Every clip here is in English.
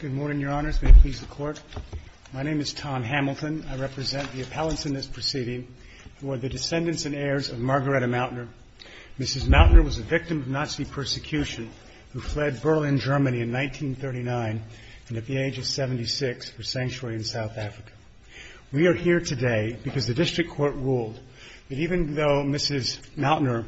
Good morning, Your Honors. May it please the Court. My name is Tom Hamilton. I represent the appellants in this proceeding who are the descendants and heirs of Margareta Mautner. Mrs. Mautner was a victim of Nazi persecution who fled Berlin, Germany in 1939 and at the age of 76 for sanctuary in South Africa. We are here today because the District Court ruled that even though Mrs. Mautner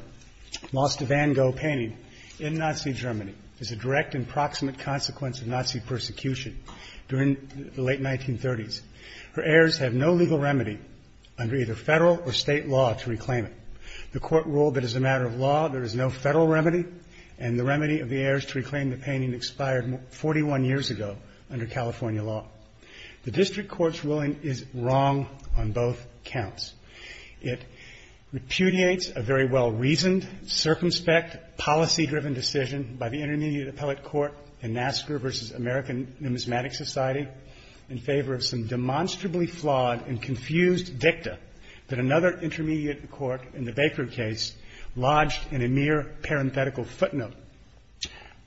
lost a Van Gogh painting in Nazi Germany as a direct and proximate consequence of Nazi persecution during the late 1930s, her heirs have no legal remedy under either federal or state law to reclaim it. The Court ruled that as a matter of law, there is no federal remedy and the remedy of the heirs to reclaim the painting expired 41 years ago under California law. The District Court's ruling is wrong on both counts. It repudiates a very well-reasoned, circumspect, policy-driven decision by the Intermediate Appellate Court in NASCAR v. American Numismatic Society in favor of some demonstrably flawed and confused dicta that another Intermediate Court in the Baker case lodged in a mere parenthetical footnote.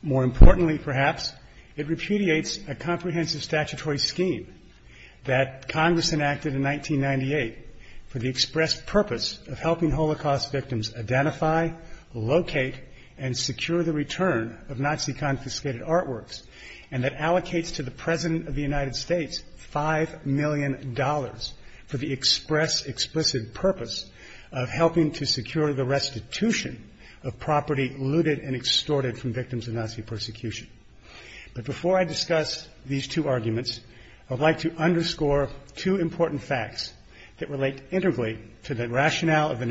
More importantly, perhaps, it repudiates a comprehensive statutory scheme that Congress enacted in 1998 for the expressed purpose of helping Nazi-confiscated artworks and that allocates to the President of the United States $5 million for the express, explicit purpose of helping to secure the restitution of property looted and extorted from victims of Nazi persecution. But before I discuss these two arguments, I would like to underscore two important facts that relate integrally to the rationale of this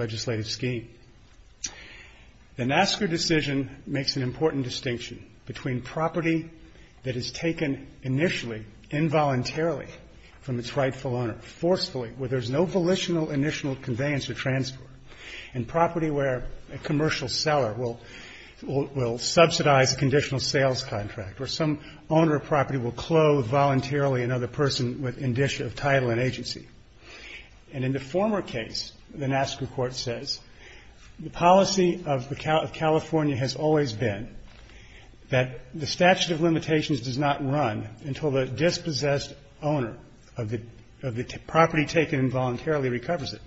legislative scheme. The NASCAR decision makes an important distinction between property that is taken initially, involuntarily from its rightful owner, forcefully, where there is no volitional, initial conveyance or transport, and property where a commercial seller will subsidize a conditional sales contract or some owner of property will clothe voluntarily another person with indicia of title and agency. And in the former case, the NASCAR Court says, the policy of California has always been that the statute of limitations does not run until the dispossessed owner of the property taken involuntarily recovers it.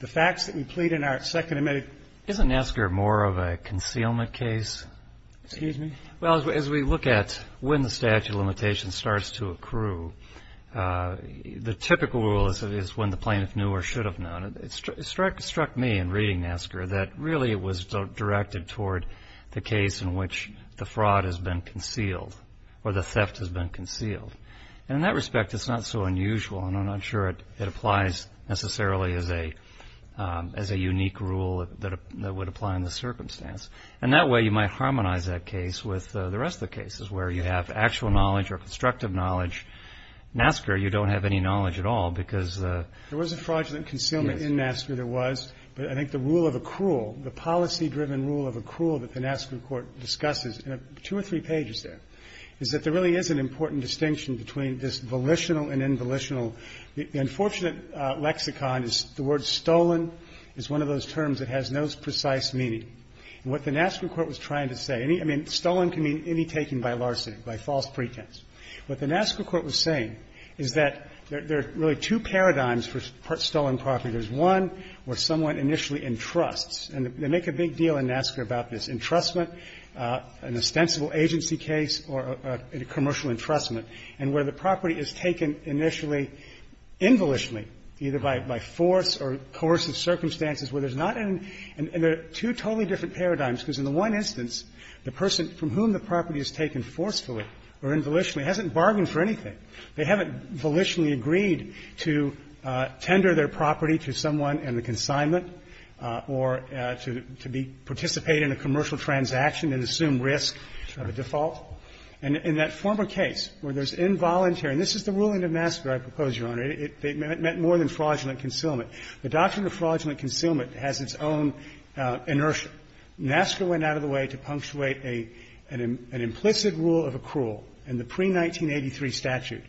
The facts that we plead in our second amendment ---- Roberts, Jr. Isn't NASCAR more of a concealment case? Roberts, Jr. Excuse me? Roberts, Jr. Well, as we look at when the statute of limitations starts to accrue, the typical rule is when the plaintiff knew or should have known. It struck me in reading NASCAR that really it was directed toward the case in which the fraud has been concealed or the theft has been concealed. And in that respect, it's not so unusual and I'm not sure it applies necessarily as a unique rule that would apply in this circumstance. And that way you might harmonize that case with the rest of the cases where you have actual knowledge or constructive knowledge. NASCAR, you don't have any knowledge at all because ---- Roberts, Jr. There was a fraudulent concealment in NASCAR. There was. But I think the rule of accrual, the policy-driven rule of accrual that the NASCAR Court discusses in two or three pages there is that there really is an important distinction between this volitional and involitional. The unfortunate lexicon is the word stolen is one of those terms that has no precise meaning. And what the NASCAR Court was trying to say, I mean, stolen can be taken by larceny, by false pretense. What the NASCAR Court was saying is that there are really two paradigms for stolen property. There's one where someone initially entrusts. And they make a big deal in NASCAR about this entrustment, an ostensible agency case or a commercial entrustment, and where the property is taken initially involutionally, either by force or coercive circumstances, where there's not an ---- and there are two totally different paradigms, because in the one instance, the person from whom the property is taken forcefully or involitionally hasn't bargained for anything. They haven't volitionally agreed to tender their property to someone in the consignment or to be ---- participate in a commercial transaction and assume risk of a default. And in that former case where there's involuntary ---- and this is the ruling of NASCAR I propose, Your Honor. It meant more than fraudulent concealment. The doctrine of fraudulent concealment has its own inertia. NASCAR went out of the way to punctuate an implicit rule of accrual in the pre-1983 statute,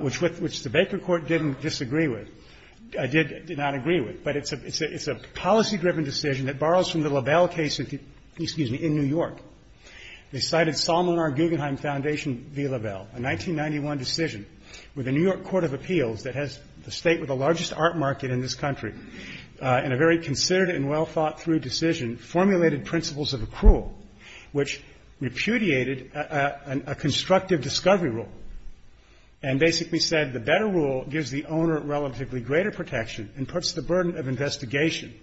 which the Baker Court didn't disagree with, did not agree with. But it's a policy-driven decision that borrows from the LaBelle case, excuse me, in New York. They cited Sol Monar-Guggenheim Foundation v. LaBelle, a 1991 decision where the New York Court of Appeals, that has the state with the largest art market in this country and a very considered and well-thought-through decision, formulated principles of accrual, which repudiated a constructive discovery rule and basically said the better rule gives the owner relatively greater protection and puts the burden of investigation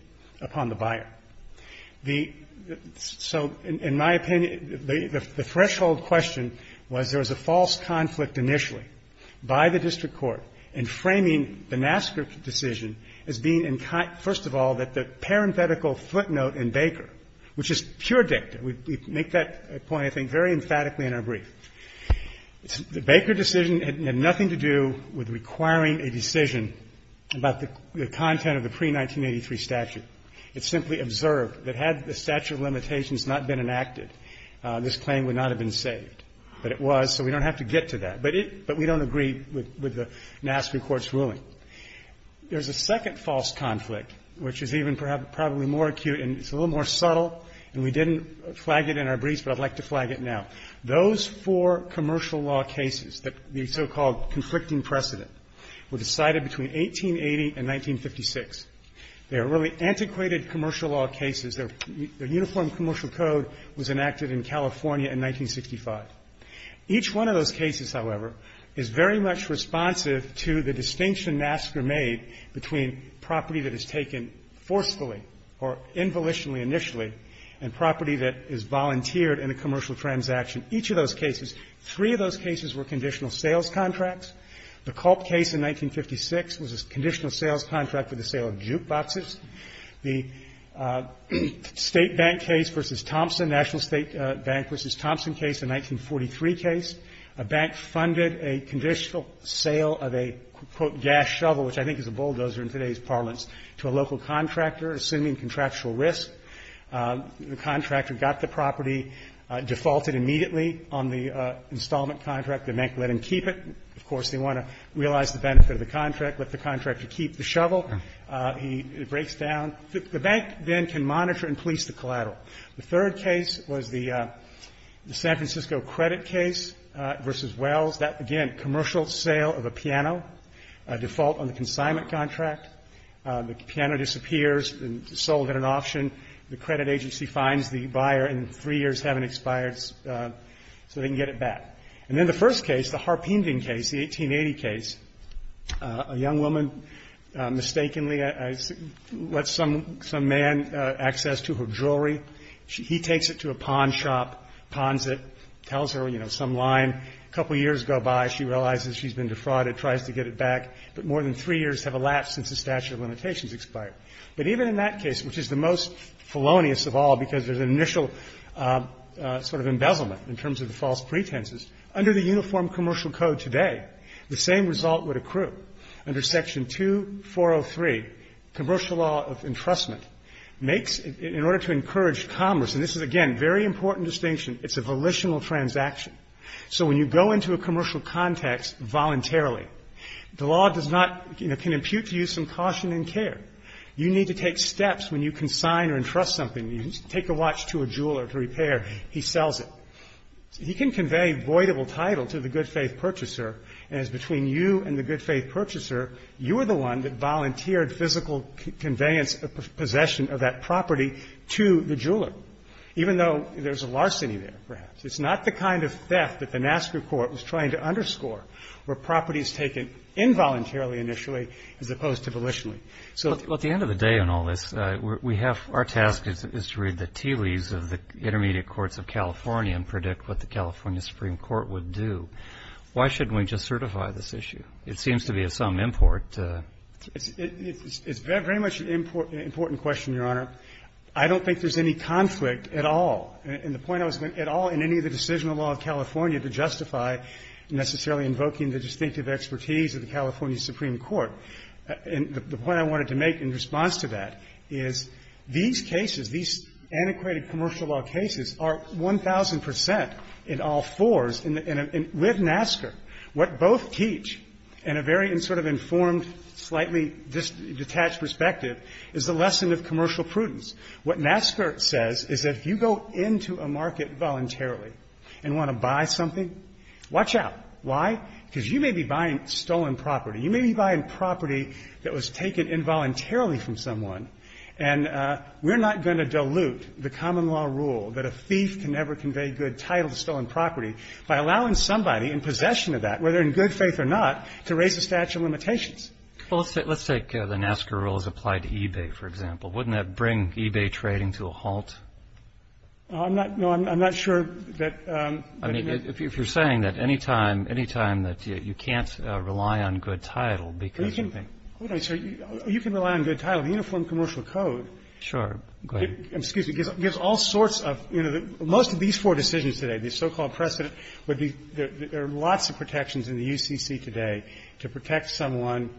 upon the buyer. So in my opinion, the threshold question was there was a false conflict initially by the district court in framing the NASCAR decision as being, first of all, the parenthetical footnote in Baker, which is pure dicta. We make that point, I think, very emphatically in our brief. The Baker decision had nothing to do with requiring a decision about the content of the pre-1983 statute. It simply observed that had the statute of limitations not been enacted, this claim would not have been saved. But it was, so we don't have to get to that, but we don't agree with the NASCAR court's ruling. There's a second false conflict, which is even probably more acute and it's a little more subtle, and we didn't flag it in our briefs, but I'd like to flag it now. Those four commercial law cases, the so-called conflicting precedent, were decided between 1880 and 1956. They were really antiquated commercial law cases. Their uniform commercial code was enacted in California in 1965. Each one of those cases, however, is very much responsive to the distinction NASCAR made between property that is taken forcefully or involitionally initially and property that is volunteered in a commercial transaction. Each of those cases, three of those cases were conditional sales contracts. The Culp case in 1956 was a conditional sales contract with the sale of jukeboxes. The State Bank case v. Thompson, National State Bank v. Thompson case, the 1943 case, a bank funded a conditional sale of a, quote, gas shovel, which I think is a bulldozer in today's parlance, to a local contractor, assuming contractual risk. The contractor got the property, defaulted immediately on the installment contract. The bank let him keep it. Of course, they want to realize the benefit of the contract, let the contractor keep the shovel. He breaks down. The bank then can monitor and police the collateral. The third case was the San Francisco credit case v. Wells. That, again, commercial sale of a piano, a default on the consignment contract. The piano disappears and is sold at an auction. The credit agency finds the buyer and three years haven't expired, so they can get it back. And then the first case, the Harping case, the 1880 case, a young woman mistakenly lets some man access to her jewelry. He takes it to a pawn shop, pawns it, tells her, you know, some line. A couple years go by. She realizes she's been defrauded, tries to get it back. But more than three years have elapsed since the statute of limitations expired. But even in that case, which is the most felonious of all because there's an initial sort of embezzlement in terms of the false pretenses, under the Uniform Commercial Code today, the same result would accrue. Under Section 2403, commercial law of entrustment makes, in order to encourage commerce, and this is, again, a very important distinction, it's a volitional transaction. So when you go into a commercial context voluntarily, the law does not, you know, impute to you some caution and care. You need to take steps when you consign or entrust something. You take a watch to a jeweler to repair. He sells it. He can convey voidable title to the good-faith purchaser, and it's between you and the good-faith purchaser. You are the one that volunteered physical conveyance of possession of that property to the jeweler, even though there's a larceny there, perhaps. It's not the kind of theft that the NASCA court was trying to underscore, where the property is taken involuntarily, initially, as opposed to volitionally. So at the end of the day on all this, we have to read the tea leaves of the intermediate courts of California and predict what the California Supreme Court would do. Why shouldn't we just certify this issue? It seems to be of some import. It's very much an important question, Your Honor. I don't think there's any conflict at all. And the point I was making, at all in any of the decisional law of California to justify necessarily invoking the distinctive expertise of the California Supreme Court, and the point I wanted to make in response to that is these cases, these antiquated commercial law cases, are 1,000 percent in all fours. And with NASCA, what both teach in a very sort of informed, slightly detached perspective is the lesson of commercial prudence. What NASCA says is that if you go into a market voluntarily and want to buy something, watch out. Why? Because you may be buying stolen property. You may be buying property that was taken involuntarily from someone. And we're not going to dilute the common law rule that a thief can never convey good title to stolen property by allowing somebody in possession of that, whether in good faith or not, to raise a statute of limitations. Well, let's take the NASCA rule as applied to eBay, for example. Wouldn't that bring eBay trading to a halt? No, I'm not sure that ---- I mean, if you're saying that any time that you can't rely on good title because of the ---- Hold on, sir. You can rely on good title. The Uniform Commercial Code ---- Sure. Go ahead. Excuse me. Gives all sorts of, you know, most of these four decisions today, the so-called precedent, would be there are lots of protections in the UCC today to protect someone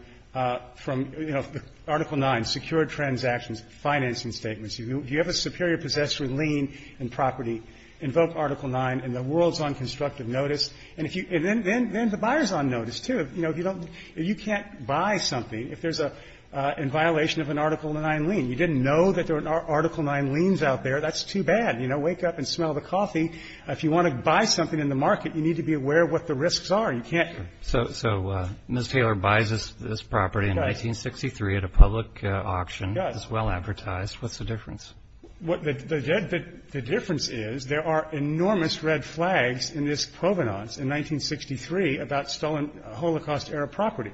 from, you know, Article 9, secure transactions, financing statements. If you have a superior possessor in lien and property, invoke Article 9 and the world's on constructive notice. And if you ---- and then the buyer's on notice, too. You know, if you don't ---- you can't buy something if there's a ---- in violation of an Article 9 lien. You didn't know that there were Article 9 liens out there. That's too bad. You know, wake up and smell the coffee. If you want to buy something in the market, you need to be aware of what the risks You can't ---- So Ms. Taylor buys this property in 1963 at a public auction. Yes. It's well advertised. What's the difference? What the difference is, there are enormous red flags in this provenance in 1963 about stolen Holocaust-era property.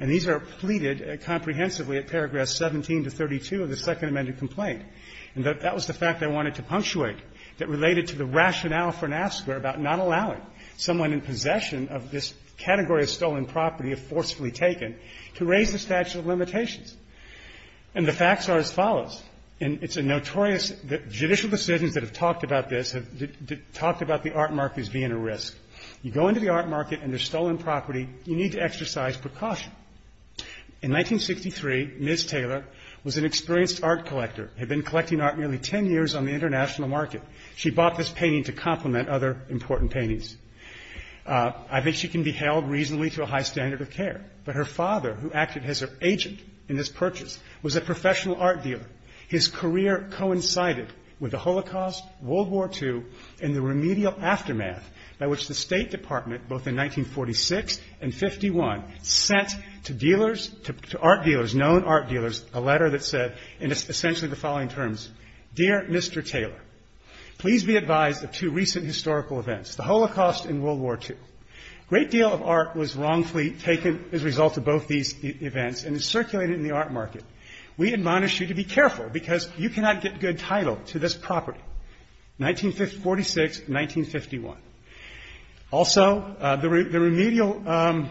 And these are pleaded comprehensively at paragraphs 17 to 32 of the Second Amended Complaint. And that was the fact I wanted to punctuate that related to the rationale for NAFSA were about not allowing someone in possession of this category of stolen property if forcefully taken to raise the statute of limitations. And the facts are as follows. And it's a notorious ---- judicial decisions that have talked about this have talked about the art market as being a risk. You go into the art market and there's stolen property, you need to exercise precaution. In 1963, Ms. Taylor was an experienced art collector, had been collecting art nearly ten years on the international market. She bought this painting to complement other important paintings. I think she can be held reasonably to a high standard of care. But her father, who acted as her agent in this purchase, was a professional art dealer. His career coincided with the Holocaust, World War II, and the remedial aftermath by which the State Department, both in 1946 and 51, sent to dealers, to art dealers, known art dealers, a letter that said in essentially the following terms, Dear Mr. Taylor, please be advised of two recent historical events, the Holocaust and World War II. Great deal of art was wrongfully taken as a result of both these events and is circulated in the art market. We admonish you to be careful because you cannot get good title to this property, 1946, 1951. Also, the remedial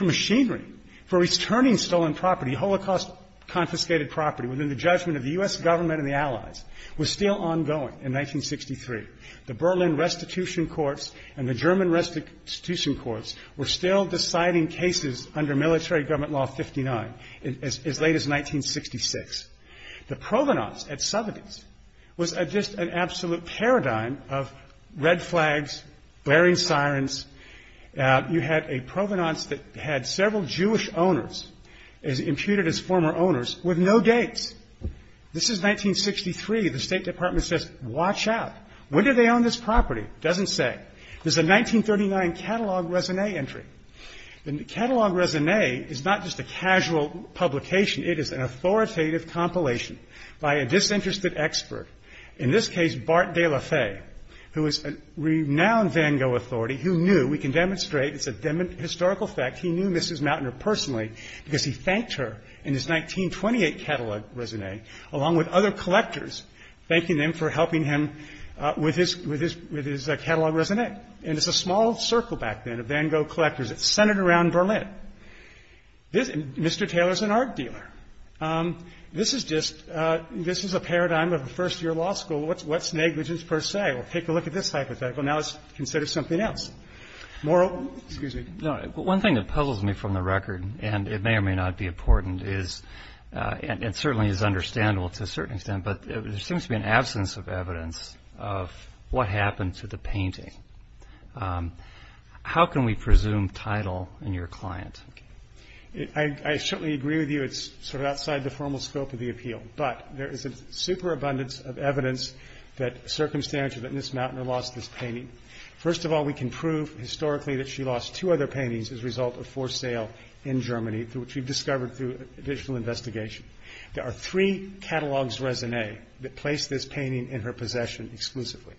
machinery for returning stolen property, Holocaust confiscated property, within the judgment of the U.S. government and the Allies, was still ongoing in 1963. The Berlin Restitution Courts and the German Restitution Courts were still deciding cases under military government law 59 as late as 1966. The provenance at 70s was just an absolute paradigm of red flags, blaring sirens. You had a provenance that had several Jewish owners, as imputed as former owners, with no dates. This is 1963. The State Department says, Watch out. When did they own this property? It doesn't say. This is a 1939 catalog resume entry. And the catalog resume is not just a casual publication. It is an authoritative compilation by a disinterested expert, in this case, Bart De La Faye, who is a renowned Van Gogh authority, who knew. We can demonstrate. It's a historical fact. He knew Mrs. Mautner personally because he thanked her in his 1928 catalog resume, along with other collectors, thanking them for helping him with his catalog resume. And it's a small circle back then of Van Gogh collectors. It's centered around Berlin. Mr. Taylor is an art dealer. This is just a paradigm of a first-year law school. What's negligence per se? Well, take a look at this hypothetical. Now it's considered something else. Excuse me. No, one thing that puzzles me from the record, and it may or may not be important, and certainly is understandable to a certain extent, but there seems to be an absence of evidence of what happened to the painting. How can we presume title in your client? I certainly agree with you. It's sort of outside the formal scope of the appeal. But there is a superabundance of evidence that circumstantially that Mrs. Mautner lost this painting. First of all, we can prove historically that she lost two other paintings as a result of forced sale in Germany, which we've discovered through additional investigation. There are three catalogs resume that place this painting in her possession exclusively.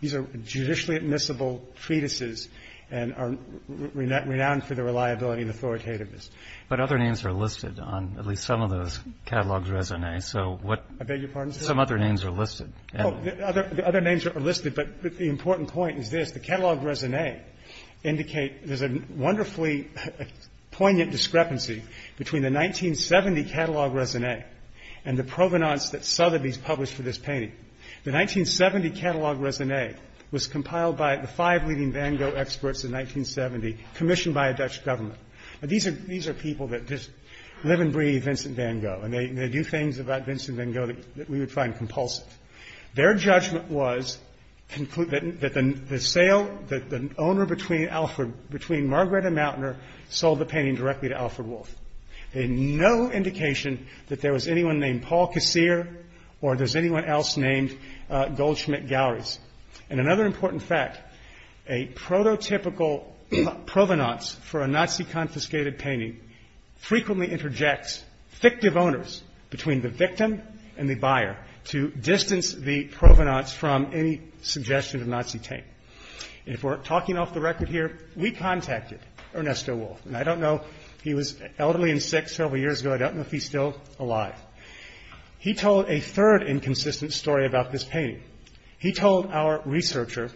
These are judicially admissible treatises and are renowned for their reliability and authoritativeness. But other names are listed on at least some of those catalogs resume. I beg your pardon, sir? Some other names are listed. Other names are listed, but the important point is this. The catalog resume indicate there's a wonderfully poignant discrepancy between the 1970 catalog resume and the provenance that Sotheby's published for this painting. The 1970 catalog resume was compiled by the five leading Van Gogh experts in 1970, commissioned by a Dutch government. These are people that just live and breathe Vincent Van Gogh, and they do things about Vincent Van Gogh that we would find compulsive. Their judgment was that the sale, that the owner between Margaret and Mautner sold the painting directly to Alfred Wolff. They had no indication that there was anyone named Paul Kassir or there's anyone else named Goldschmidt Galleries. And another important fact, a prototypical provenance for a Nazi confiscated painting frequently interjects fictive owners between the victim and the buyer to distance the provenance from any suggestion of Nazi taint. And if we're talking off the record here, we contacted Ernesto Wolff. And I don't know, he was elderly and sick several years ago. I don't know if he's still alive. He told a third inconsistent story about this painting. He told our researcher,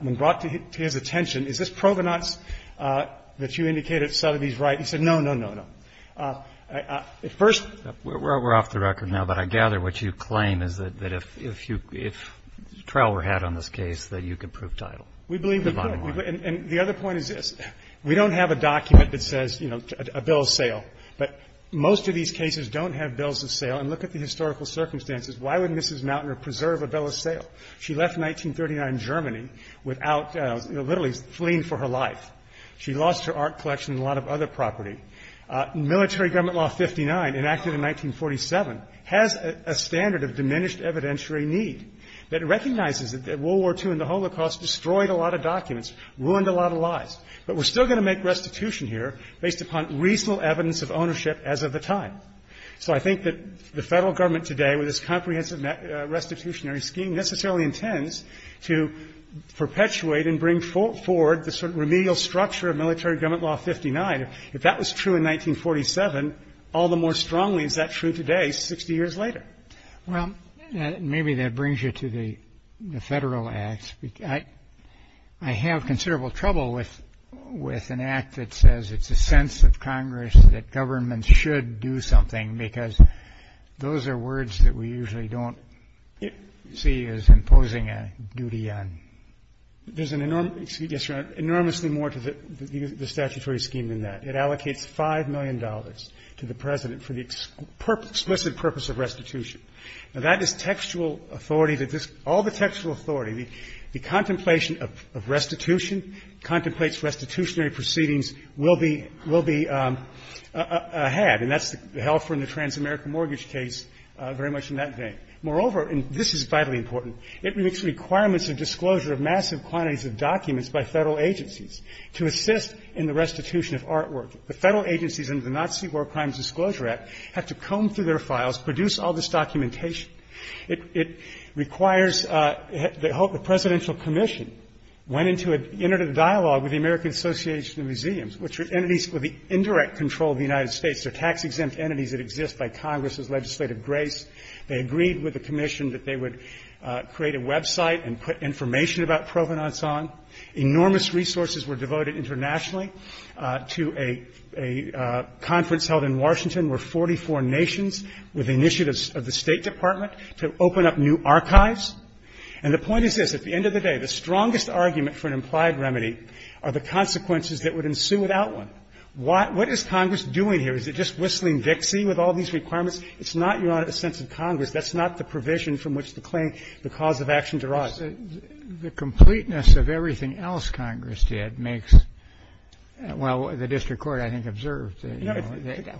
when brought to his attention, is this provenance that you indicated Sotheby's right? He said, no, no, no, no. First of all. Breyer. We're off the record now, but I gather what you claim is that if trial were had on this case, that you could prove title. We believe we could. And the other point is this. We don't have a document that says, you know, a bill of sale. But most of these cases don't have bills of sale. And look at the historical circumstances. Why would Mrs. Mautner preserve a bill of sale? She left 1939 Germany without, you know, literally fleeing for her life. She lost her art collection and a lot of other property. Military Government Law 59, enacted in 1947, has a standard of diminished evidentiary need that recognizes that World War II and the Holocaust destroyed a lot of documents, ruined a lot of lives. But we're still going to make restitution here based upon reasonable evidence of ownership as of the time. So I think that the federal government today, with this comprehensive restitutionary scheme necessarily intends to perpetuate and bring forward the sort of remedial structure of Military Government Law 59. If that was true in 1947, all the more strongly is that true today, 60 years later? Well, maybe that brings you to the federal acts. I have considerable trouble with an act that says it's a sense of Congress that governments should do something, because those are words that we usually don't see as imposing a duty on. There's an enormous, yes, Your Honor, enormously more to the statutory scheme than that. It allocates $5 million to the President for the explicit purpose of restitution. Now, that is textual authority. All the textual authority, the contemplation of restitution, contemplates restitutionary proceedings will be had. And that's held for in the trans-American mortgage case very much in that vein. Moreover, and this is vitally important, it makes requirements of disclosure of massive quantities of documents by federal agencies to assist in the restitution of artwork. The federal agencies under the Nazi War Crimes Disclosure Act have to comb through their files, produce all this documentation. It requires the presidential commission went into a dialogue with the American Association of Museums, which are entities with the indirect control of the United States. They're tax-exempt entities that exist by Congress's legislative grace. They agreed with the commission that they would create a website and put information about provenance on. Enormous resources were devoted internationally to a conference held in Washington where 44 nations with initiatives of the State Department to open up new archives. And the point is this, at the end of the day, the strongest argument for an implied remedy are the consequences that would ensue without one. What is Congress doing here? Is it just whistling Dixie with all these requirements? It's not your sense of Congress. That's not the provision from which the claim, the cause of action derives. The completeness of everything else Congress did makes the district court, I think, observed.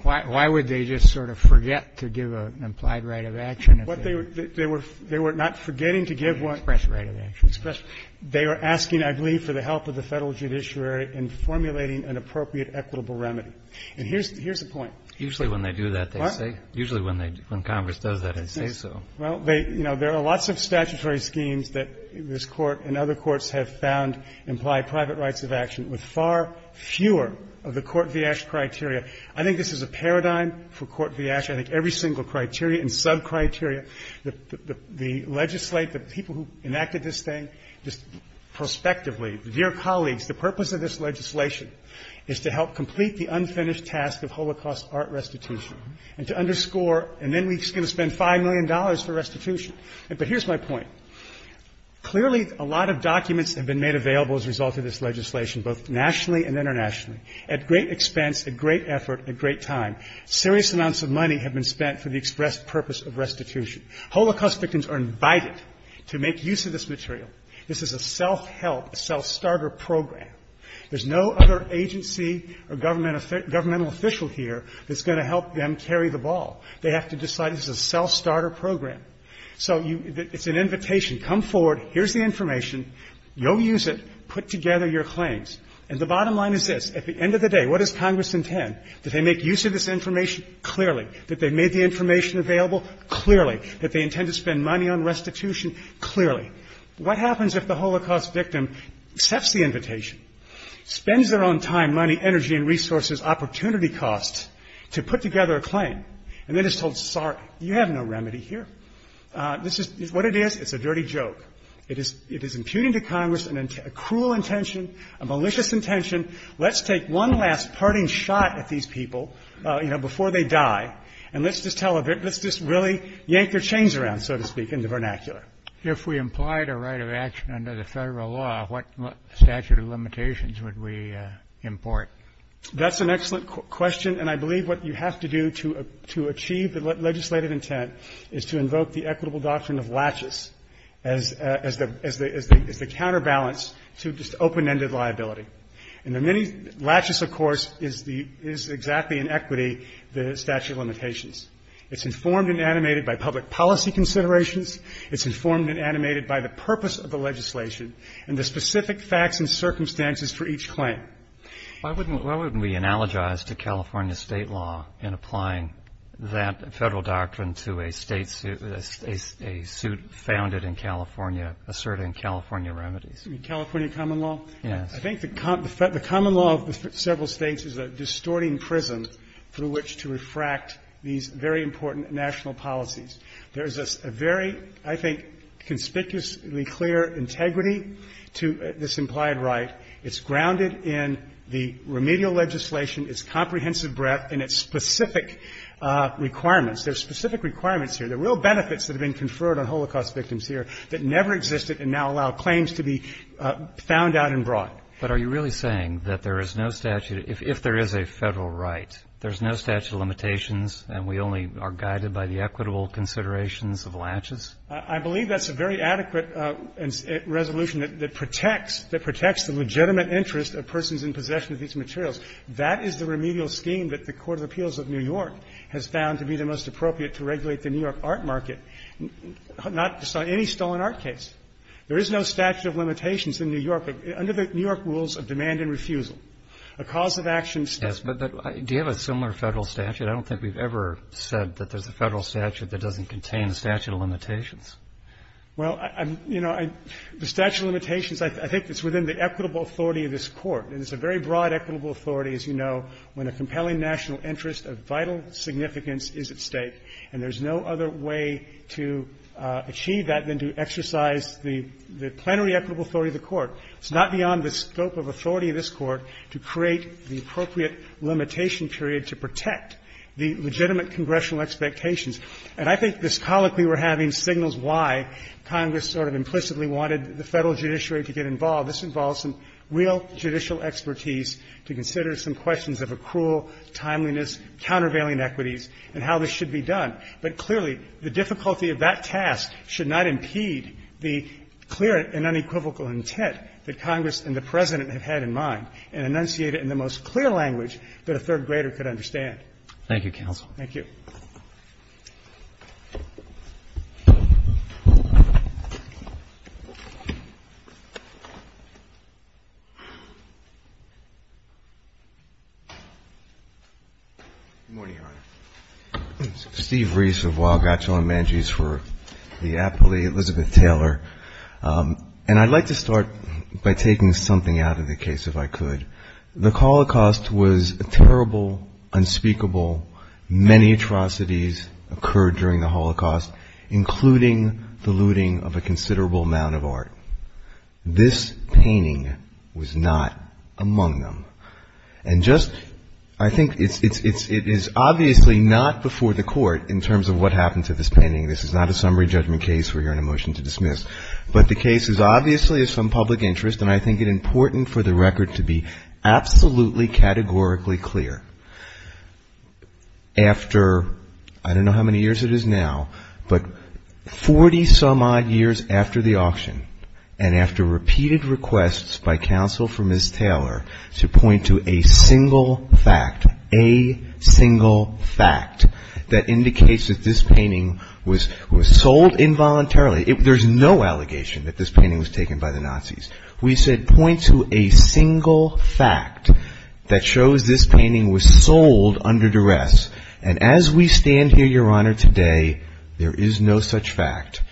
Why would they just sort of forget to give an implied right of action? They were not forgetting to give what? Expressed right of action. They were asking, I believe, for the help of the Federal judiciary in formulating an appropriate equitable remedy. And here's the point. Usually when they do that, they say. What? Usually when Congress does that, they say so. Well, you know, there are lots of statutory schemes that this Court and other courts have found imply private rights of action with far fewer of the Court v. Asch criteria. I think this is a paradigm for Court v. Asch. I think every single criteria and sub-criteria, the legislate, the people who enacted this thing, just prospectively, dear colleagues, the purpose of this legislation is to help complete the unfinished task of Holocaust art restitution and to underscore and then we're just going to spend $5 million for restitution. But here's my point. Clearly a lot of documents have been made available as a result of this legislation, both nationally and internationally. At great expense, at great effort, at great time, serious amounts of money have been spent for the express purpose of restitution. Holocaust victims are invited to make use of this material. This is a self-help, a self-starter program. There's no other agency or governmental official here that's going to help them carry the ball. They have to decide this is a self-starter program. So it's an invitation. Come forward. Here's the information. Go use it. Put together your claims. And the bottom line is this. At the end of the day, what does Congress intend? That they make use of this information? Clearly. That they've made the information available? Clearly. That they intend to spend money on restitution? Clearly. What happens if the Holocaust victim accepts the invitation, spends their own time, money, energy and resources, opportunity costs to put together a claim and then is told, sorry, you have no remedy here? This is what it is. It's a dirty joke. It is impugning to Congress a cruel intention, a malicious intention. Let's take one last parting shot at these people, you know, before they die, and let's just tell a bit. Let's just really yank their chains around, so to speak, in the vernacular. If we implied a right of action under the Federal law, what statute of limitations would we import? That's an excellent question. And I believe what you have to do to achieve the legislative intent is to invoke the equitable doctrine of laches as the counterbalance to just open-ended liability. And laches, of course, is exactly in equity the statute of limitations. It's informed and animated by public policy considerations. It's informed and animated by the purpose of the legislation and the specific facts and circumstances for each claim. Why wouldn't we analogize to California state law in applying that Federal doctrine to a state suit, a suit founded in California asserting California remedies? You mean California common law? Yes. I think the common law of several states is a distorting prism through which to refract these very important national policies. There is a very, I think, conspicuously clear integrity to this implied right. It's grounded in the remedial legislation, its comprehensive breadth, and its specific requirements. There are specific requirements here. There are real benefits that have been conferred on Holocaust victims here that never existed and now allow claims to be found out and brought. But are you really saying that there is no statute, if there is a Federal right, there's no statute of limitations and we only are guided by the equitable considerations of laches? I believe that's a very adequate resolution that protects the legitimate interest of persons in possession of these materials. That is the remedial scheme that the Court of Appeals of New York has found to be the most appropriate to regulate the New York art market, not just on any stolen art case. There is no statute of limitations in New York under the New York rules of demand and refusal. A cause of action statute. Yes, but do you have a similar Federal statute? I don't think we've ever said that there's a Federal statute that doesn't contain a statute of limitations. Well, you know, the statute of limitations, I think it's within the equitable authority of this Court. And it's a very broad equitable authority, as you know, when a compelling national interest of vital significance is at stake. And there's no other way to achieve that than to exercise the plenary equitable authority of the Court. It's not beyond the scope of authority of this Court to create the appropriate limitation period to protect the legitimate congressional expectations. And I think this colloquy we're having signals why Congress sort of implicitly wanted the Federal judiciary to get involved. This involves some real judicial expertise to consider some questions of accrual, timeliness, countervailing equities, and how this should be done. But clearly, the difficulty of that task should not impede the clear and unequivocal intent that Congress and the President have had in mind and enunciate it in the most Thank you, counsel. Thank you. Good morning, Your Honor. Steve Reese of Wild Gatcho and Mangy's for the appellee, Elizabeth Taylor. And I'd like to start by taking something out of the case, if I could. The Holocaust was a terrible, unspeakable, many atrocities occurred during the Holocaust, including the looting of a considerable amount of art. This painting was not among them. And just, I think it is obviously not before the Court in terms of what happened to this painting. This is not a summary judgment case. We're hearing a motion to dismiss. But the case is obviously of some public interest, and I think it important for the record to be absolutely categorically clear. After, I don't know how many years it is now, but 40 some odd years after the auction, and after repeated requests by counsel for Ms. Taylor to point to a single fact, a single fact, that indicates that this painting was sold involuntarily. There's no allegation that this painting was taken by the Nazis. We said point to a single fact that shows this painting was sold under duress. And as we stand here, Your Honor, today, there is no such fact.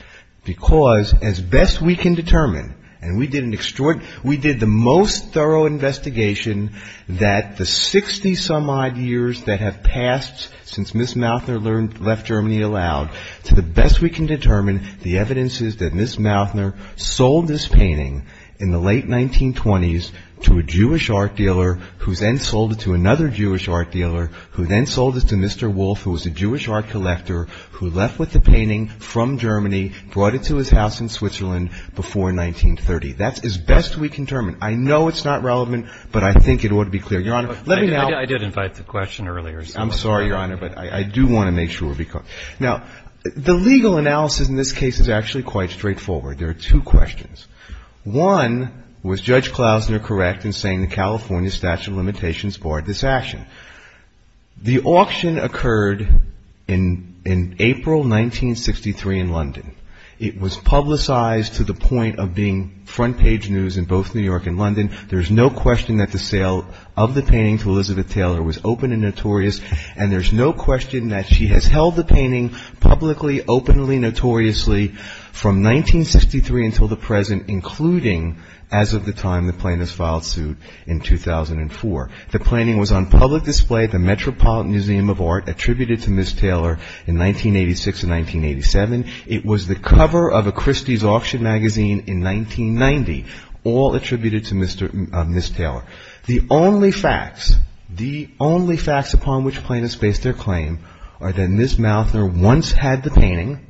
Because as best we can determine, and we did an extraordinary, we did the most thorough investigation that the 60 some odd years that have passed since Ms. Mautner left Germany aloud, to the best we can determine, the evidence is that Ms. Mautner sold this painting in the late 1920s to a Jewish art dealer, who then sold it to another Jewish art dealer, who then sold it to Mr. Wolf, who was a Jewish art collector, who left with the painting from Germany, brought it to his house in Switzerland before 1930. That's as best we can determine. I know it's not relevant, but I think it ought to be clear. Your Honor, let me now ---- I did invite the question earlier. I'm sorry, Your Honor, but I do want to make sure. Now, the legal analysis in this case is actually quite straightforward. There are two questions. One, was Judge Klausner correct in saying the California statute of limitations barred this action? The auction occurred in April 1963 in London. It was publicized to the point of being front page news in both New York and London. There's no question that the sale of the painting to Elizabeth Taylor was open and notorious, and there's no question that she has held the painting publicly, openly, notoriously from 1963 until the present, including as of the time the plaintiffs filed suit in 2004. The painting was on public display at the Metropolitan Museum of Art, attributed to Ms. Taylor in 1986 and 1987. It was the cover of a Christie's auction magazine in 1990, all attributed to Ms. Taylor. The only facts, the only facts upon which plaintiffs base their claim are that Ms. Mautner once had the painting,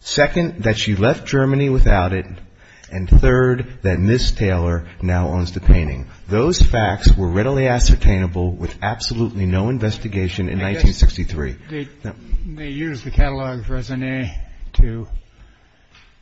second, that she left Germany without it, and third, that Ms. Taylor now owns the painting. Those facts were readily ascertainable with absolutely no investigation in 1963. They used the catalog of resume to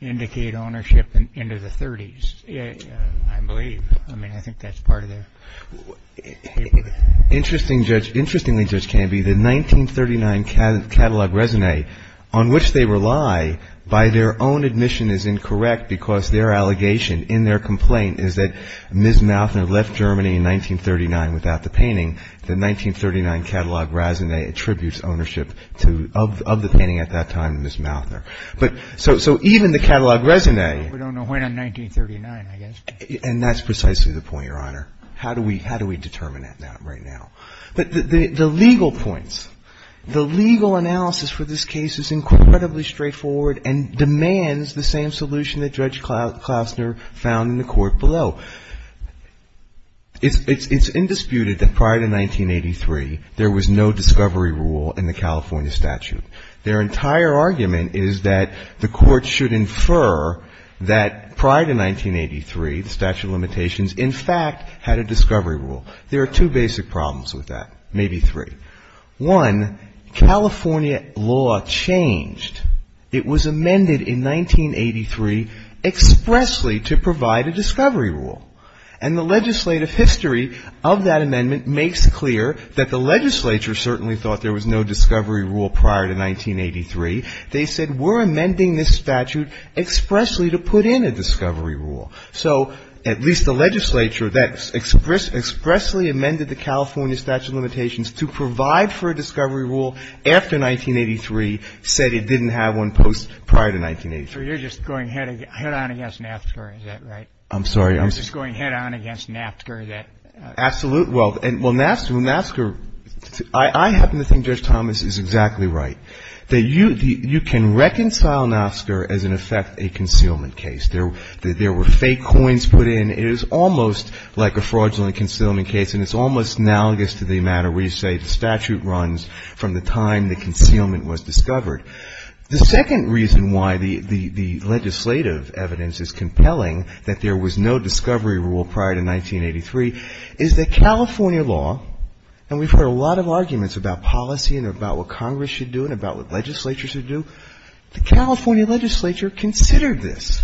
indicate ownership into the 30s, I believe. I mean, I think that's part of the paper. Interestingly, Judge Canby, the 1939 catalog resume on which they rely by their own admission is incorrect, because their allegation in their complaint is that Ms. Mautner left Germany in 1939 without the painting. The 1939 catalog resume attributes ownership of the painting at that time to Ms. Mautner. So even the catalog resume... But the legal points, the legal analysis for this case is incredibly straightforward and demands the same solution that Judge Klausner found in the court below. It's indisputed that prior to 1983, there was no discovery rule in the California statute. Their entire argument is that the court should infer that prior to 1983, the statute of limitations, in fact, had a discovery rule. There are two basic problems with that, maybe three. One, California law changed. It was amended in 1983 expressly to provide a discovery rule. And the legislative history of that amendment makes clear that the legislature certainly thought there was no discovery rule prior to 1983. They said, we're amending this statute expressly to put in a discovery rule. So at least the legislature that expressly amended the California statute of limitations to provide for a discovery rule after 1983 said it didn't have one prior to 1983. So you're just going head-on against NAFTA, is that right? I'm sorry. I'm just going head-on against NAFTA. Absolutely. Well, NAFTA, I happen to think Judge Thomas is exactly right. You can reconcile NAFTA as, in effect, a concealment case. There were fake coins put in. It is almost like a fraudulent concealment case, and it's almost analogous to the matter where you say the statute runs from the time the concealment was discovered. The second reason why the legislative evidence is compelling that there was no discovery rule prior to 1983 is that California law, and we've heard a lot of arguments about policy and about what Congress should do and about what legislatures should do, the California legislature considered this.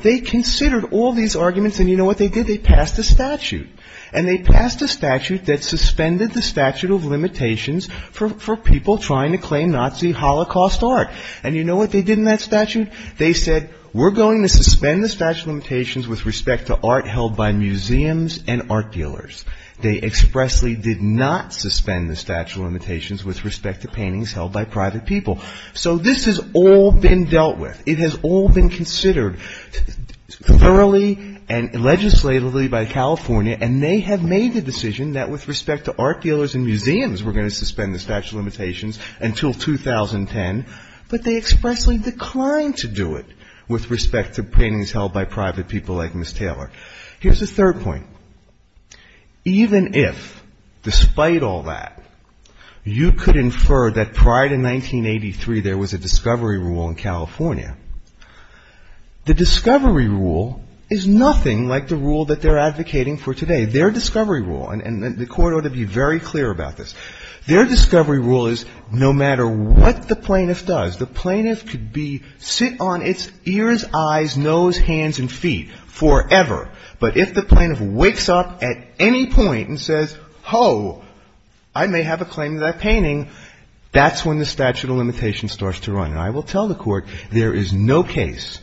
They considered all these arguments, and you know what they did? They passed a statute, and they passed a statute that suspended the statute of limitations for people trying to claim Nazi Holocaust art. And you know what they did in that statute? They said, we're going to suspend the statute of limitations with respect to art held by museums and art dealers. They expressly did not suspend the statute of limitations with respect to paintings held by private people. So this has all been dealt with. It has all been considered thoroughly and legislatively by California, and they have made the decision that with respect to art dealers and museums, we're going to suspend the statute of limitations until 2010, but they expressly declined to do it with respect to paintings held by private people like Ms. Taylor. Here's the third point. Even if, despite all that, you could infer that prior to 1983 there was a discovery rule in California, the discovery rule is nothing like the rule that they're advocating for today. Their discovery rule, and the Court ought to be very clear about this, their discovery rule is no matter what the plaintiff does, the plaintiff could sit on its ears, eyes, nose, hands, and feet forever. But if the plaintiff wakes up at any point and says, oh, I may have a claim to that painting, that's when the statute of limitations starts to run. And I will tell the Court, there is no case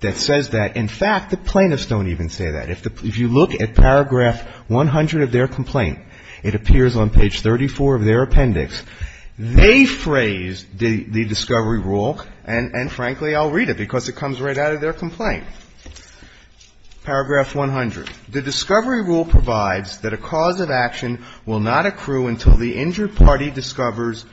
that says that. In fact, the plaintiffs don't even say that. If you look at paragraph 100 of their complaint, it appears on page 34 of their appendix, they phrase the discovery rule, and frankly, I'll read it because it comes right out of their complaint. Paragraph 100. The discovery rule provides that a cause of action will not accrue until the injured party discovers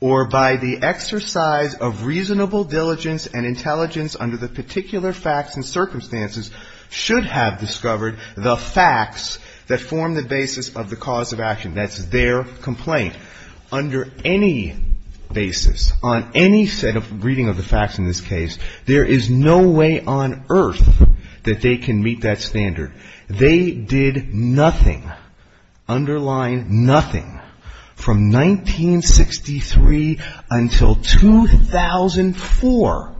or by the exercise of reasonable diligence and intelligence under the particular facts and circumstances should have discovered the facts that form the basis of the cause of action. That's their complaint. Under any basis, on any set of reading of the facts in this case, there is no way on earth that they can meet that standard. They did nothing, underline nothing, from 1963 until 2004.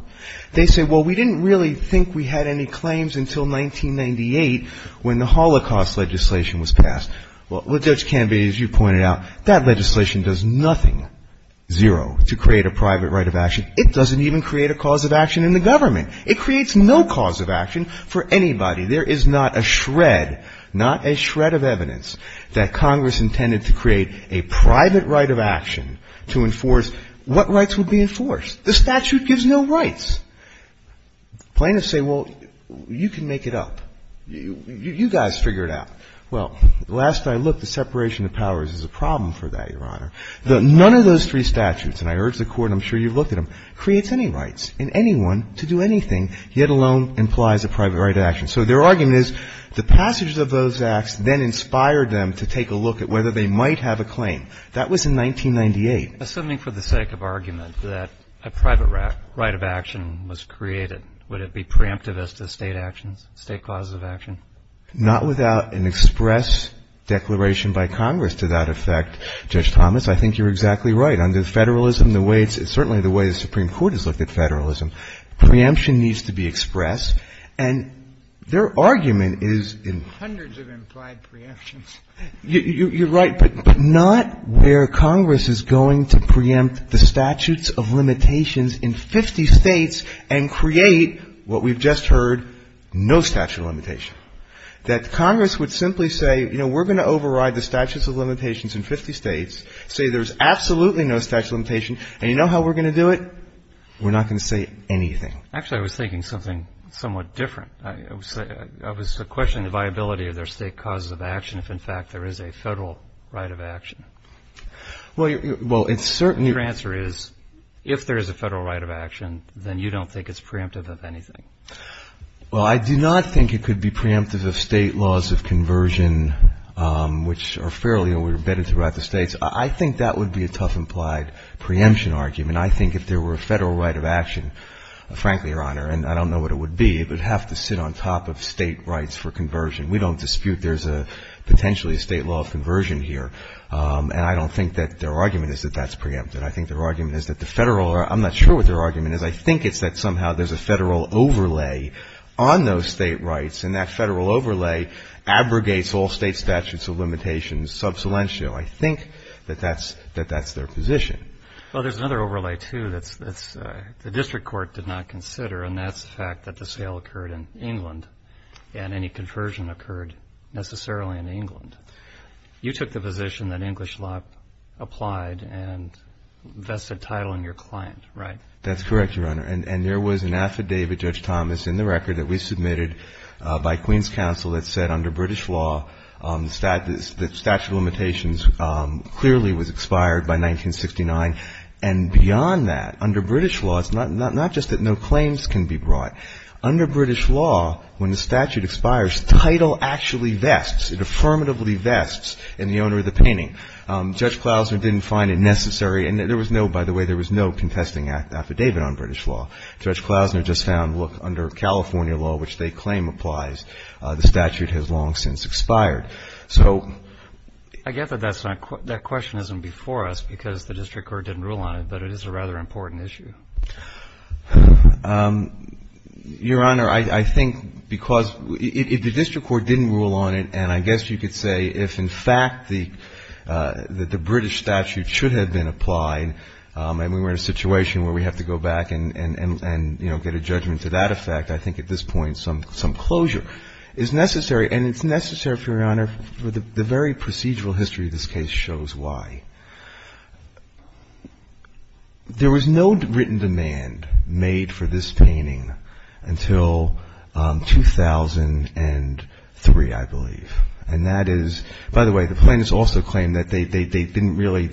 They say, well, we didn't really think we had any claims until 1998 when the Holocaust legislation was passed. Well, Judge Canvey, as you pointed out, that legislation does nothing, zero, to create a private right of action. It doesn't even create a cause of action in the government. It creates no cause of action for anybody. There is not a shred, not a shred of evidence that Congress intended to create a private right of action to enforce what rights would be enforced. The statute gives no rights. Plaintiffs say, well, you can make it up. You guys figure it out. Well, the last I looked, the separation of powers is a problem for that, Your Honor. None of those three statutes, and I urge the Court, I'm sure you've looked at them, creates any rights in anyone to do anything, yet alone implies a private right of action. So their argument is the passage of those acts then inspired them to take a look at whether they might have a claim. That was in 1998. Assuming, for the sake of argument, that a private right of action was created, would it be preemptive as to state actions, state clauses of action? Not without an express declaration by Congress to that effect. Judge Thomas, I think you're exactly right. Under federalism, the way it's certainly the way the Supreme Court has looked at federalism, preemption needs to be expressed, and their argument is in hundreds of implied preemptions. You're right, but not where Congress is going to preempt the statutes of limitations in 50 States and create what we've just heard, no statute of limitation. That Congress would simply say, you know, we're going to override the statutes of limitations in 50 States, say there's absolutely no statute of limitation, and you know how we're going to do it? We're not going to say anything. Actually, I was thinking something somewhat different. I was questioning the viability of their state clauses of action if, in fact, there is a federal right of action. Your answer is, if there is a federal right of action, then you don't think it's preemptive of anything. Well, I do not think it could be preemptive of state laws of conversion, which are fairly embedded throughout the States. I think that would be a tough implied preemption argument. I think if there were a federal right of action, frankly, Your Honor, and I don't know what it would be, it would have to sit on top of state rights for conversion. We don't dispute there's potentially a state law of conversion here, and I don't think that their argument is that that's preemptive. I think their argument is that the federal or I'm not sure what their argument is. I think it's that somehow there's a federal overlay on those state rights, and that federal overlay abrogates all state statutes of limitations sub salientio. I think that that's their position. Well, there's another overlay, too, that the district court did not consider, and that's the fact that the sale occurred in England and any conversion occurred necessarily in England. You took the position that English law applied and vested title in your client, right? That's correct, Your Honor, and there was an affidavit, Judge Thomas, in the record that we submitted by Queen's Counsel that said under British law the statute of limitations clearly was expired by 1969, and beyond that, under British law, it's not just that no claims can be brought. Under British law, when the statute expires, title actually vests, it affirmatively vests in the owner of the painting. Judge Klausner didn't find it necessary, and there was no, by the way, there was no contesting affidavit on British law. Judge Klausner just found, look, under California law, which they claim applies, the statute has long since expired. I get that that question isn't before us because the district court didn't rule on it, but it is a rather important issue. Your Honor, I think because if the district court didn't rule on it, and I guess you could say if, in fact, the British statute should have been applied and we were in a situation where we have to go back and, you know, get a judgment to that effect, I think at this point some closure is necessary. And it's necessary, Your Honor, the very procedural history of this case shows why. There was no written demand made for this painting until 2003, I believe. And that is, by the way, the plaintiffs also claim that they couldn't really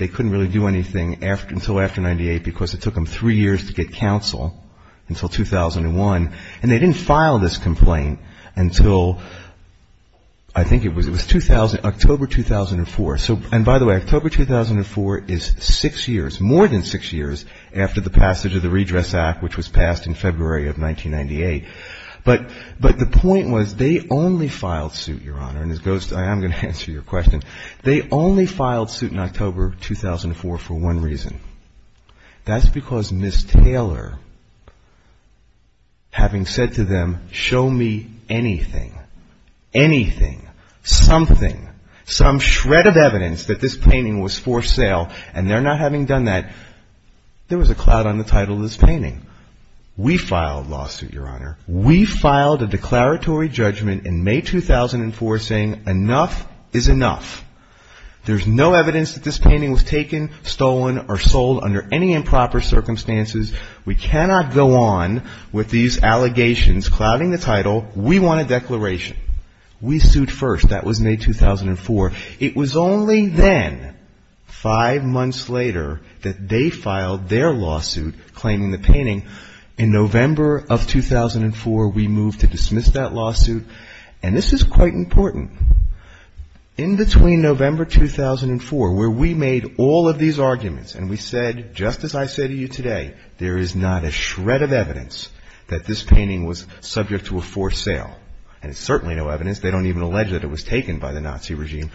do anything until after 98 because it took them three years to get counsel until 2001. And they didn't file this complaint until I think it was 2000, October 2004. So, and by the way, October 2004 is six years, more than six years after the passage of the Redress Act, which was passed in February of 1998. But the point was they only filed suit, Your Honor, and I am going to answer your question. They only filed suit in October of 2004 for one reason. That's because Ms. Taylor, having said to them, show me anything, anything, something, some shred of evidence that this painting was for sale and they're not having done that, there was a cloud on the title of this painting. We filed lawsuit, Your Honor. We filed a declaratory judgment in May 2004 saying enough is enough. There's no evidence that this painting was taken, stolen or sold under any improper circumstances. We cannot go on with these allegations clouding the title. We want a declaration. We sued first. That was May 2004. It was only then, five months later, that they filed their lawsuit claiming the painting in November of 2004. We moved to dismiss that lawsuit and this is quite important. In between November 2004 where we made all of these arguments and we said, just as I say to you today, there is not a shred of evidence that this painting was subject to a forced sale. And it's certainly no evidence. They don't even allege that it was taken by the Nazi regime.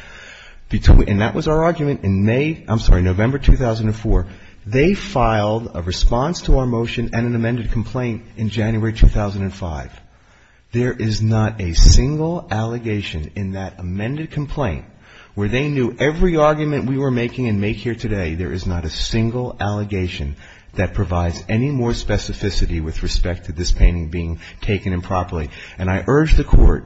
And that was our argument in May, I'm sorry, November 2004. They filed a response to our motion and an amended complaint in January 2005. There is not a single allegation in that amended complaint where they knew every argument we were making and make here today, there is not a single allegation that provides any more specificity with respect to this painting being taken improperly. And I urge the Court,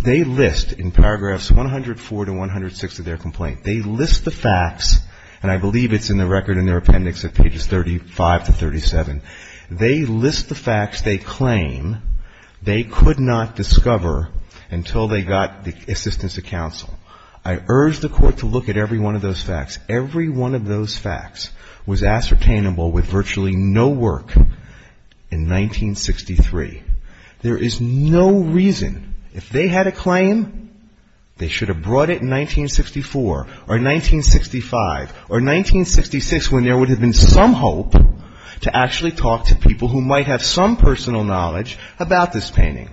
they list in paragraphs 104 to 106 of their complaint. They list the facts and I believe it's in the record in their appendix of pages 35 to 37. They list the facts they claim they could not discover until they got the assistance of counsel. I urge the Court to look at every one of those facts. Every one of those facts was ascertainable with virtually no work in 1963. There is no reason, if they had a claim, they should have brought it in 1964. Or 1965. Or 1966 when there would have been some hope to actually talk to people who might have some personal knowledge about this painting.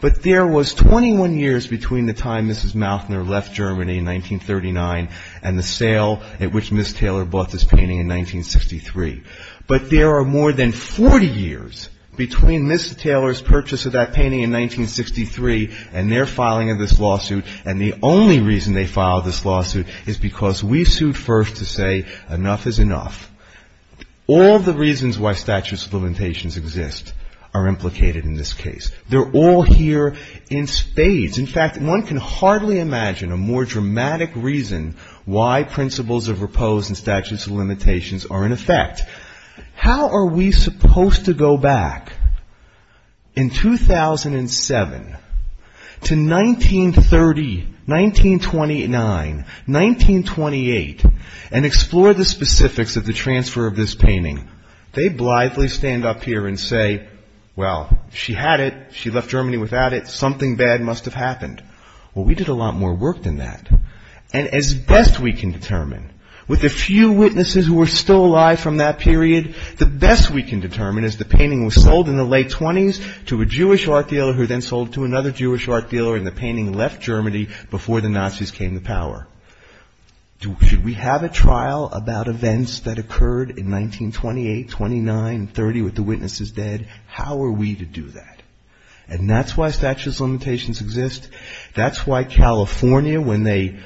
But there was 21 years between the time Mrs. Mautner left Germany in 1939 and the sale at which Ms. Taylor bought this painting in 1963. But there are more than 40 years between Ms. Taylor's purchase of that painting in 1963 and their filing of this lawsuit and the only reason they filed this lawsuit is because we sued first to say enough is enough. All of the reasons why statutes of limitations exist are implicated in this case. They're all here in spades. In fact, one can hardly imagine a more dramatic reason why principles of repose and statutes of limitations are in effect. How are we supposed to go back in 2007 to 1930 when we filed this lawsuit? How are we supposed to go back in 2003, 1929, 1928 and explore the specifics of the transfer of this painting? They blithely stand up here and say, well, she had it, she left Germany without it, something bad must have happened. Well, we did a lot more work than that and as best we can determine, with a few witnesses who are still alive from that period, the best we can determine is the painting was sold in the late 20s to a Jewish art dealer who then sold to another Jewish art dealer and the painting left Germany before the Nazis came to power. Should we have a trial about events that occurred in 1928, 29, 30 with the witnesses dead? How are we to do that? And that's why statutes of limitations exist, that's why California, when they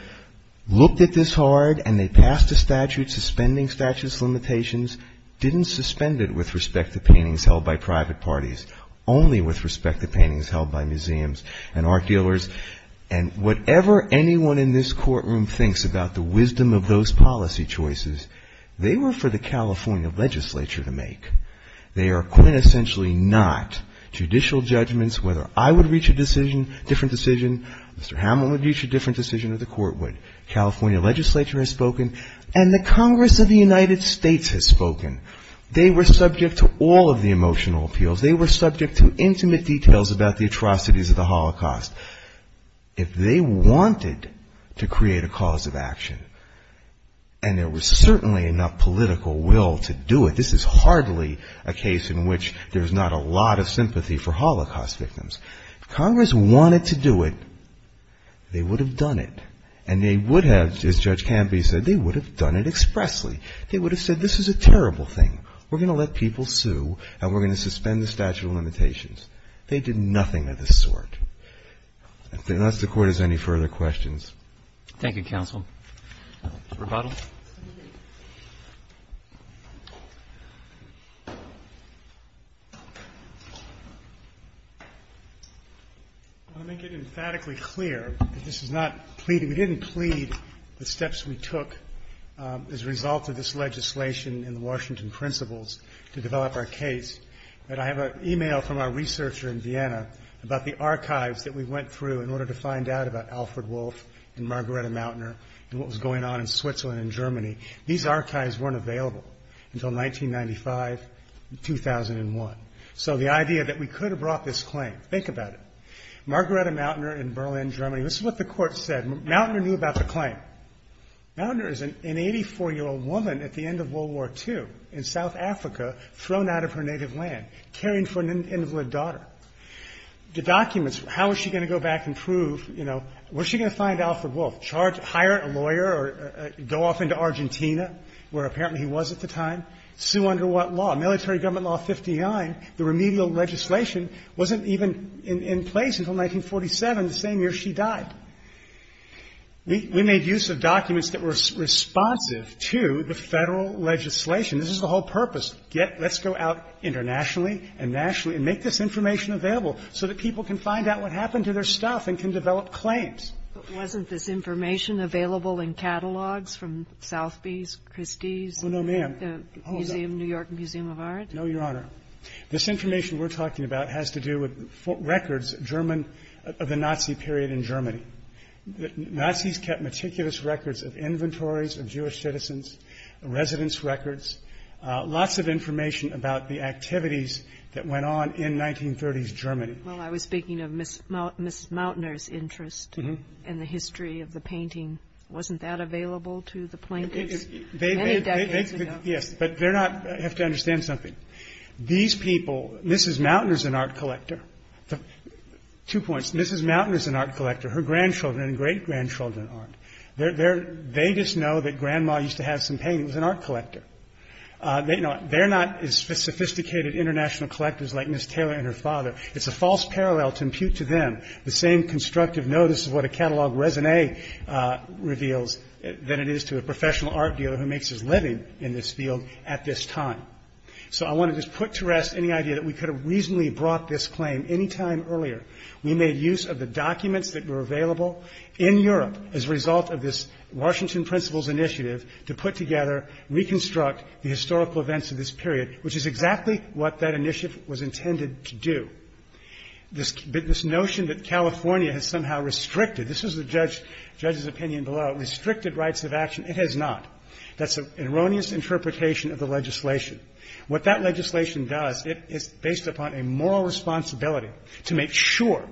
looked at this hard and they passed a statute suspending statutes of limitations, didn't suspend it with respect to paintings held by private parties, only with respect to paintings held by museums and art dealers and whatever anyone in this courtroom thinks about the wisdom of those policy choices, they were for the California legislature to make. They are quintessentially not judicial judgments, whether I would reach a different decision, Mr. Hammond would reach a different decision or the court would. California legislature has spoken and the Congress of the United States has spoken, they were subject to all of the emotional appeals, they were subject to intimate details about the atrocities of the Holocaust. If they wanted to create a cause of action, and there was certainly enough political will to do it, this is hardly a case in which there's not a lot of sympathy for Holocaust victims, if Congress wanted to do it, they would have done it and they would have, as Judge Canby said, they would have done it expressly, they would have said this is a terrible thing, we're going to let people sue and we're going to suspend the statute of limitations. They did nothing of the sort. Unless the Court has any further questions. Roberts. Thank you, counsel. I want to make it emphatically clear that this is not pleading, we didn't plead the steps we took as a result of this legislation and the Washington principles to develop our case, but I have an e-mail from our researcher in Vienna about the archives that we went through in order to find out about Alfred Wolff and Margarita Mautner and what was going on in Switzerland and Germany, these archives weren't available until 1995, 2001. So the idea that we could have brought this claim, think about it, Margarita Mautner in Berlin, Germany, this is what the Court said, Mautner knew about the claim. Mautner is an 84-year-old woman at the end of World War II in South Africa, thrown out of her native land, caring for an invalid daughter. The documents, how was she going to go back and prove, you know, where is she going to find Alfred Wolff, hire a lawyer or go off into Argentina, where apparently he was at the time, sue under what law? Military government law 59, the remedial legislation wasn't even in place until 1947, the same year she died. We made use of documents that were responsive to the Federal legislation. This is the whole purpose, let's go out internationally and nationally and make this information available so that people can find out what happened to their stuff and can develop claims. But wasn't this information available in catalogs from Southby's, Christie's, the New York Museum of Art? No, Your Honor. This information we're talking about has to do with records, German, of the Nazi period in Germany. Nazis kept meticulous records of inventories of Jewish citizens, residence records, lots of information about the activities that went on in 1930s Germany. Well, I was speaking of Mrs. Mautner's interest in the history of the painting. Wasn't that available to the plaintiffs many decades ago? Yes, but they're not, I have to understand something. These people, Mrs. Mautner's an art collector. Two points, Mrs. Mautner's an art collector, her grandchildren and great-grandchildren aren't. They just know that grandma used to have some paintings, an art collector. They're not as sophisticated international collectors like Ms. Taylor and her father. It's a false parallel to impute to them the same constructive notice of what a catalog résumé reveals than it is to a professional art dealer who makes his living in this field at this time. So I want to just put to rest any idea that we could have reasonably brought this claim any time earlier. We made use of the documents that were available in Europe as a result of this Washington Principals Initiative to put together, reconstruct the historical events of this period, which is exactly what that initiative was intended to do. This notion that California has somehow restricted, this is the judge's opinion below, restricted rights of action, it has not. That's an erroneous interpretation of the legislation. What that legislation does, it's based upon a moral responsibility to make sure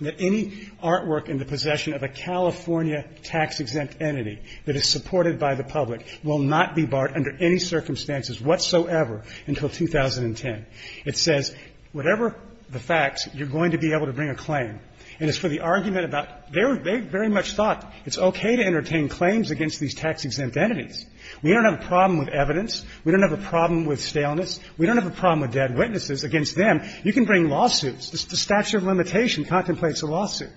that any artwork in the possession of a California tax-exempt entity that is supported by the public will not be barred under any circumstances whatsoever until 2010. It says whatever the facts, you're going to be able to bring a claim. And as for the argument about, they very much thought it's okay to entertain claims against these tax-exempt entities. We don't have a problem with evidence. We don't have a problem with staleness. We don't have a problem with dead witnesses. Against them, you can bring lawsuits. The statute of limitation contemplates a lawsuit.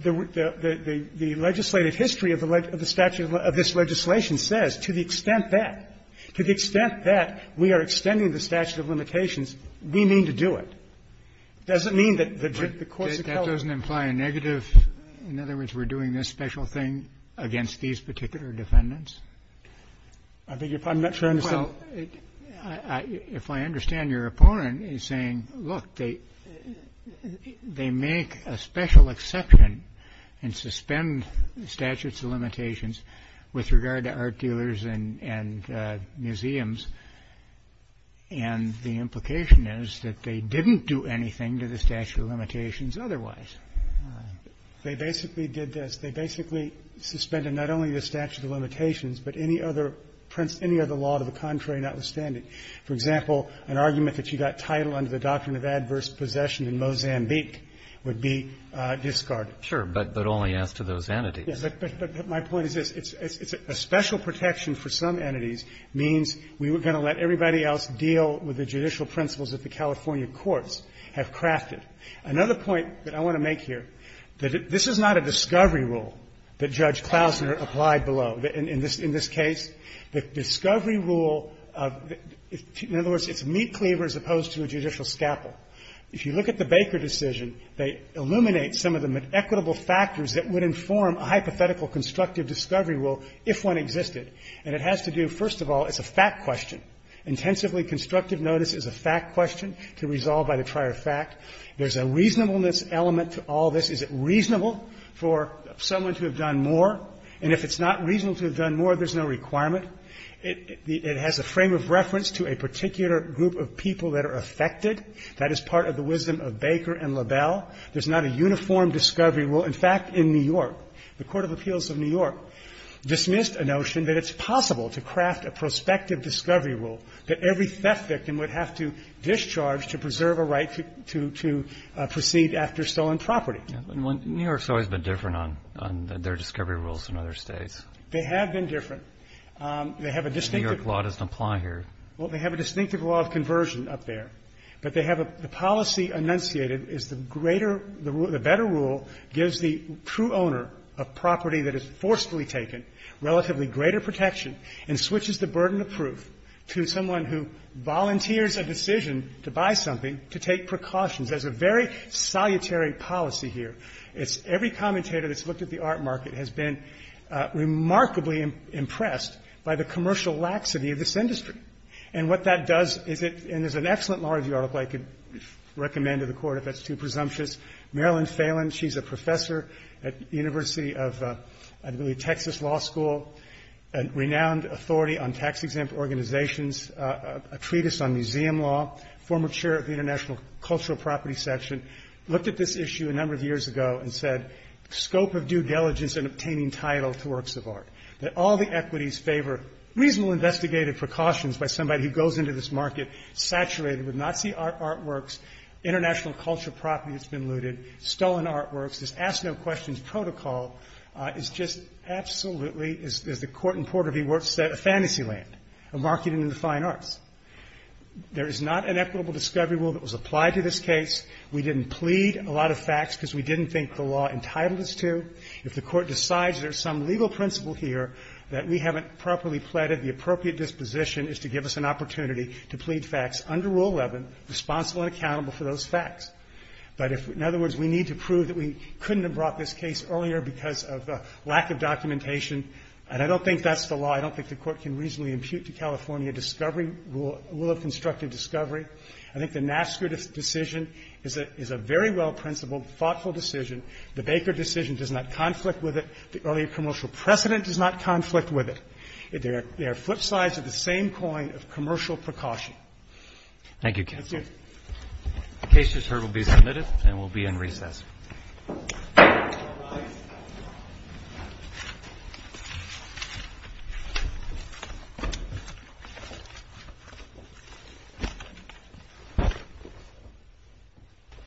The legislative history of the statute of this legislation says to the extent that, to the extent that we are extending the statute of limitations, we mean to do it. It doesn't mean that the courts oppose. In other words, we're doing this special thing against these particular defendants? I beg your pardon? I'm not sure I understand. Well, if I understand, your opponent is saying, look, they make a special exception and suspend the statute of limitations with regard to art dealers and museums. And the implication is that they didn't do anything to the statute of limitations otherwise. They basically did this. They basically suspended not only the statute of limitations, but any other law to the contrary, notwithstanding. For example, an argument that you got title under the doctrine of adverse possession in Mozambique would be discarded. Sure, but only as to those entities. But my point is this. It's a special protection for some entities means we were going to let everybody else deal with the judicial principles that the California courts have crafted. Another point that I want to make here, that this is not a discovery rule that Judge Klausner applied below. In this case, the discovery rule of the – in other words, it's a meat cleaver as opposed to a judicial scalpel. If you look at the Baker decision, they illuminate some of the equitable factors that would inform a hypothetical constructive discovery rule if one existed. And it has to do, first of all, it's a fact question. Intensively constructive notice is a fact question to resolve by the prior fact. There's a reasonableness element to all this. Is it reasonable for someone to have done more? And if it's not reasonable to have done more, there's no requirement. It has a frame of reference to a particular group of people that are affected. That is part of the wisdom of Baker and LaBelle. There's not a uniform discovery rule. In fact, in New York, the Court of Appeals of New York dismissed a notion that it's possible to craft a prospective discovery rule that every theft victim would have to discharge to preserve a right to proceed after stolen property. And New York's always been different on their discovery rules than other states. They have been different. They have a distinctive – The New York law doesn't apply here. Well, they have a distinctive law of conversion up there. But they have a – the policy enunciated is the greater – the better rule gives the true owner of property that is forcefully taken relatively greater protection and switches the burden of proof to someone who volunteers a decision to buy something to take precautions. There's a very salutary policy here. It's – every commentator that's looked at the art market has been remarkably impressed by the commercial laxity of this industry. And what that does is it – and there's an excellent law review article I could recommend to the Court if that's too presumptuous. Marilyn Phelan, she's a professor at the University of, I believe, Texas Law School, a renowned authority on tax-exempt organizations, a treatise on museum law, former chair of the International Cultural Property Section, looked at this issue a number of years ago and said, scope of due diligence in obtaining title to works of art, that all the equities favor reasonable investigative precautions by somebody who goes into this market saturated with Nazi artworks, international cultural property that's been looted, stolen artworks. This ask-no-questions protocol is just absolutely – as the court in Porter v. Worth said, a fantasy land, a market in the fine arts. There is not an equitable discovery rule that was applied to this case. We didn't plead a lot of facts because we didn't think the law entitled us to. If the Court decides there's some legal principle here that we haven't properly pleaded, the appropriate disposition is to give us an opportunity to plead facts under Rule 11, responsible and accountable for those facts. But if – in other words, we need to prove that we couldn't have brought this case earlier because of lack of documentation, and I don't think that's the law. I don't think the Court can reasonably impute to California discovery rule – rule of constructive discovery. I think the Nasker decision is a very well-principled, thoughtful decision. The Baker decision does not conflict with it. The earlier commercial precedent does not conflict with it. They are flip sides of the same coin of commercial precaution. Roberts. Thank you, counsel. That's it. The case, just heard, will be submitted and will be in recess. Thank you.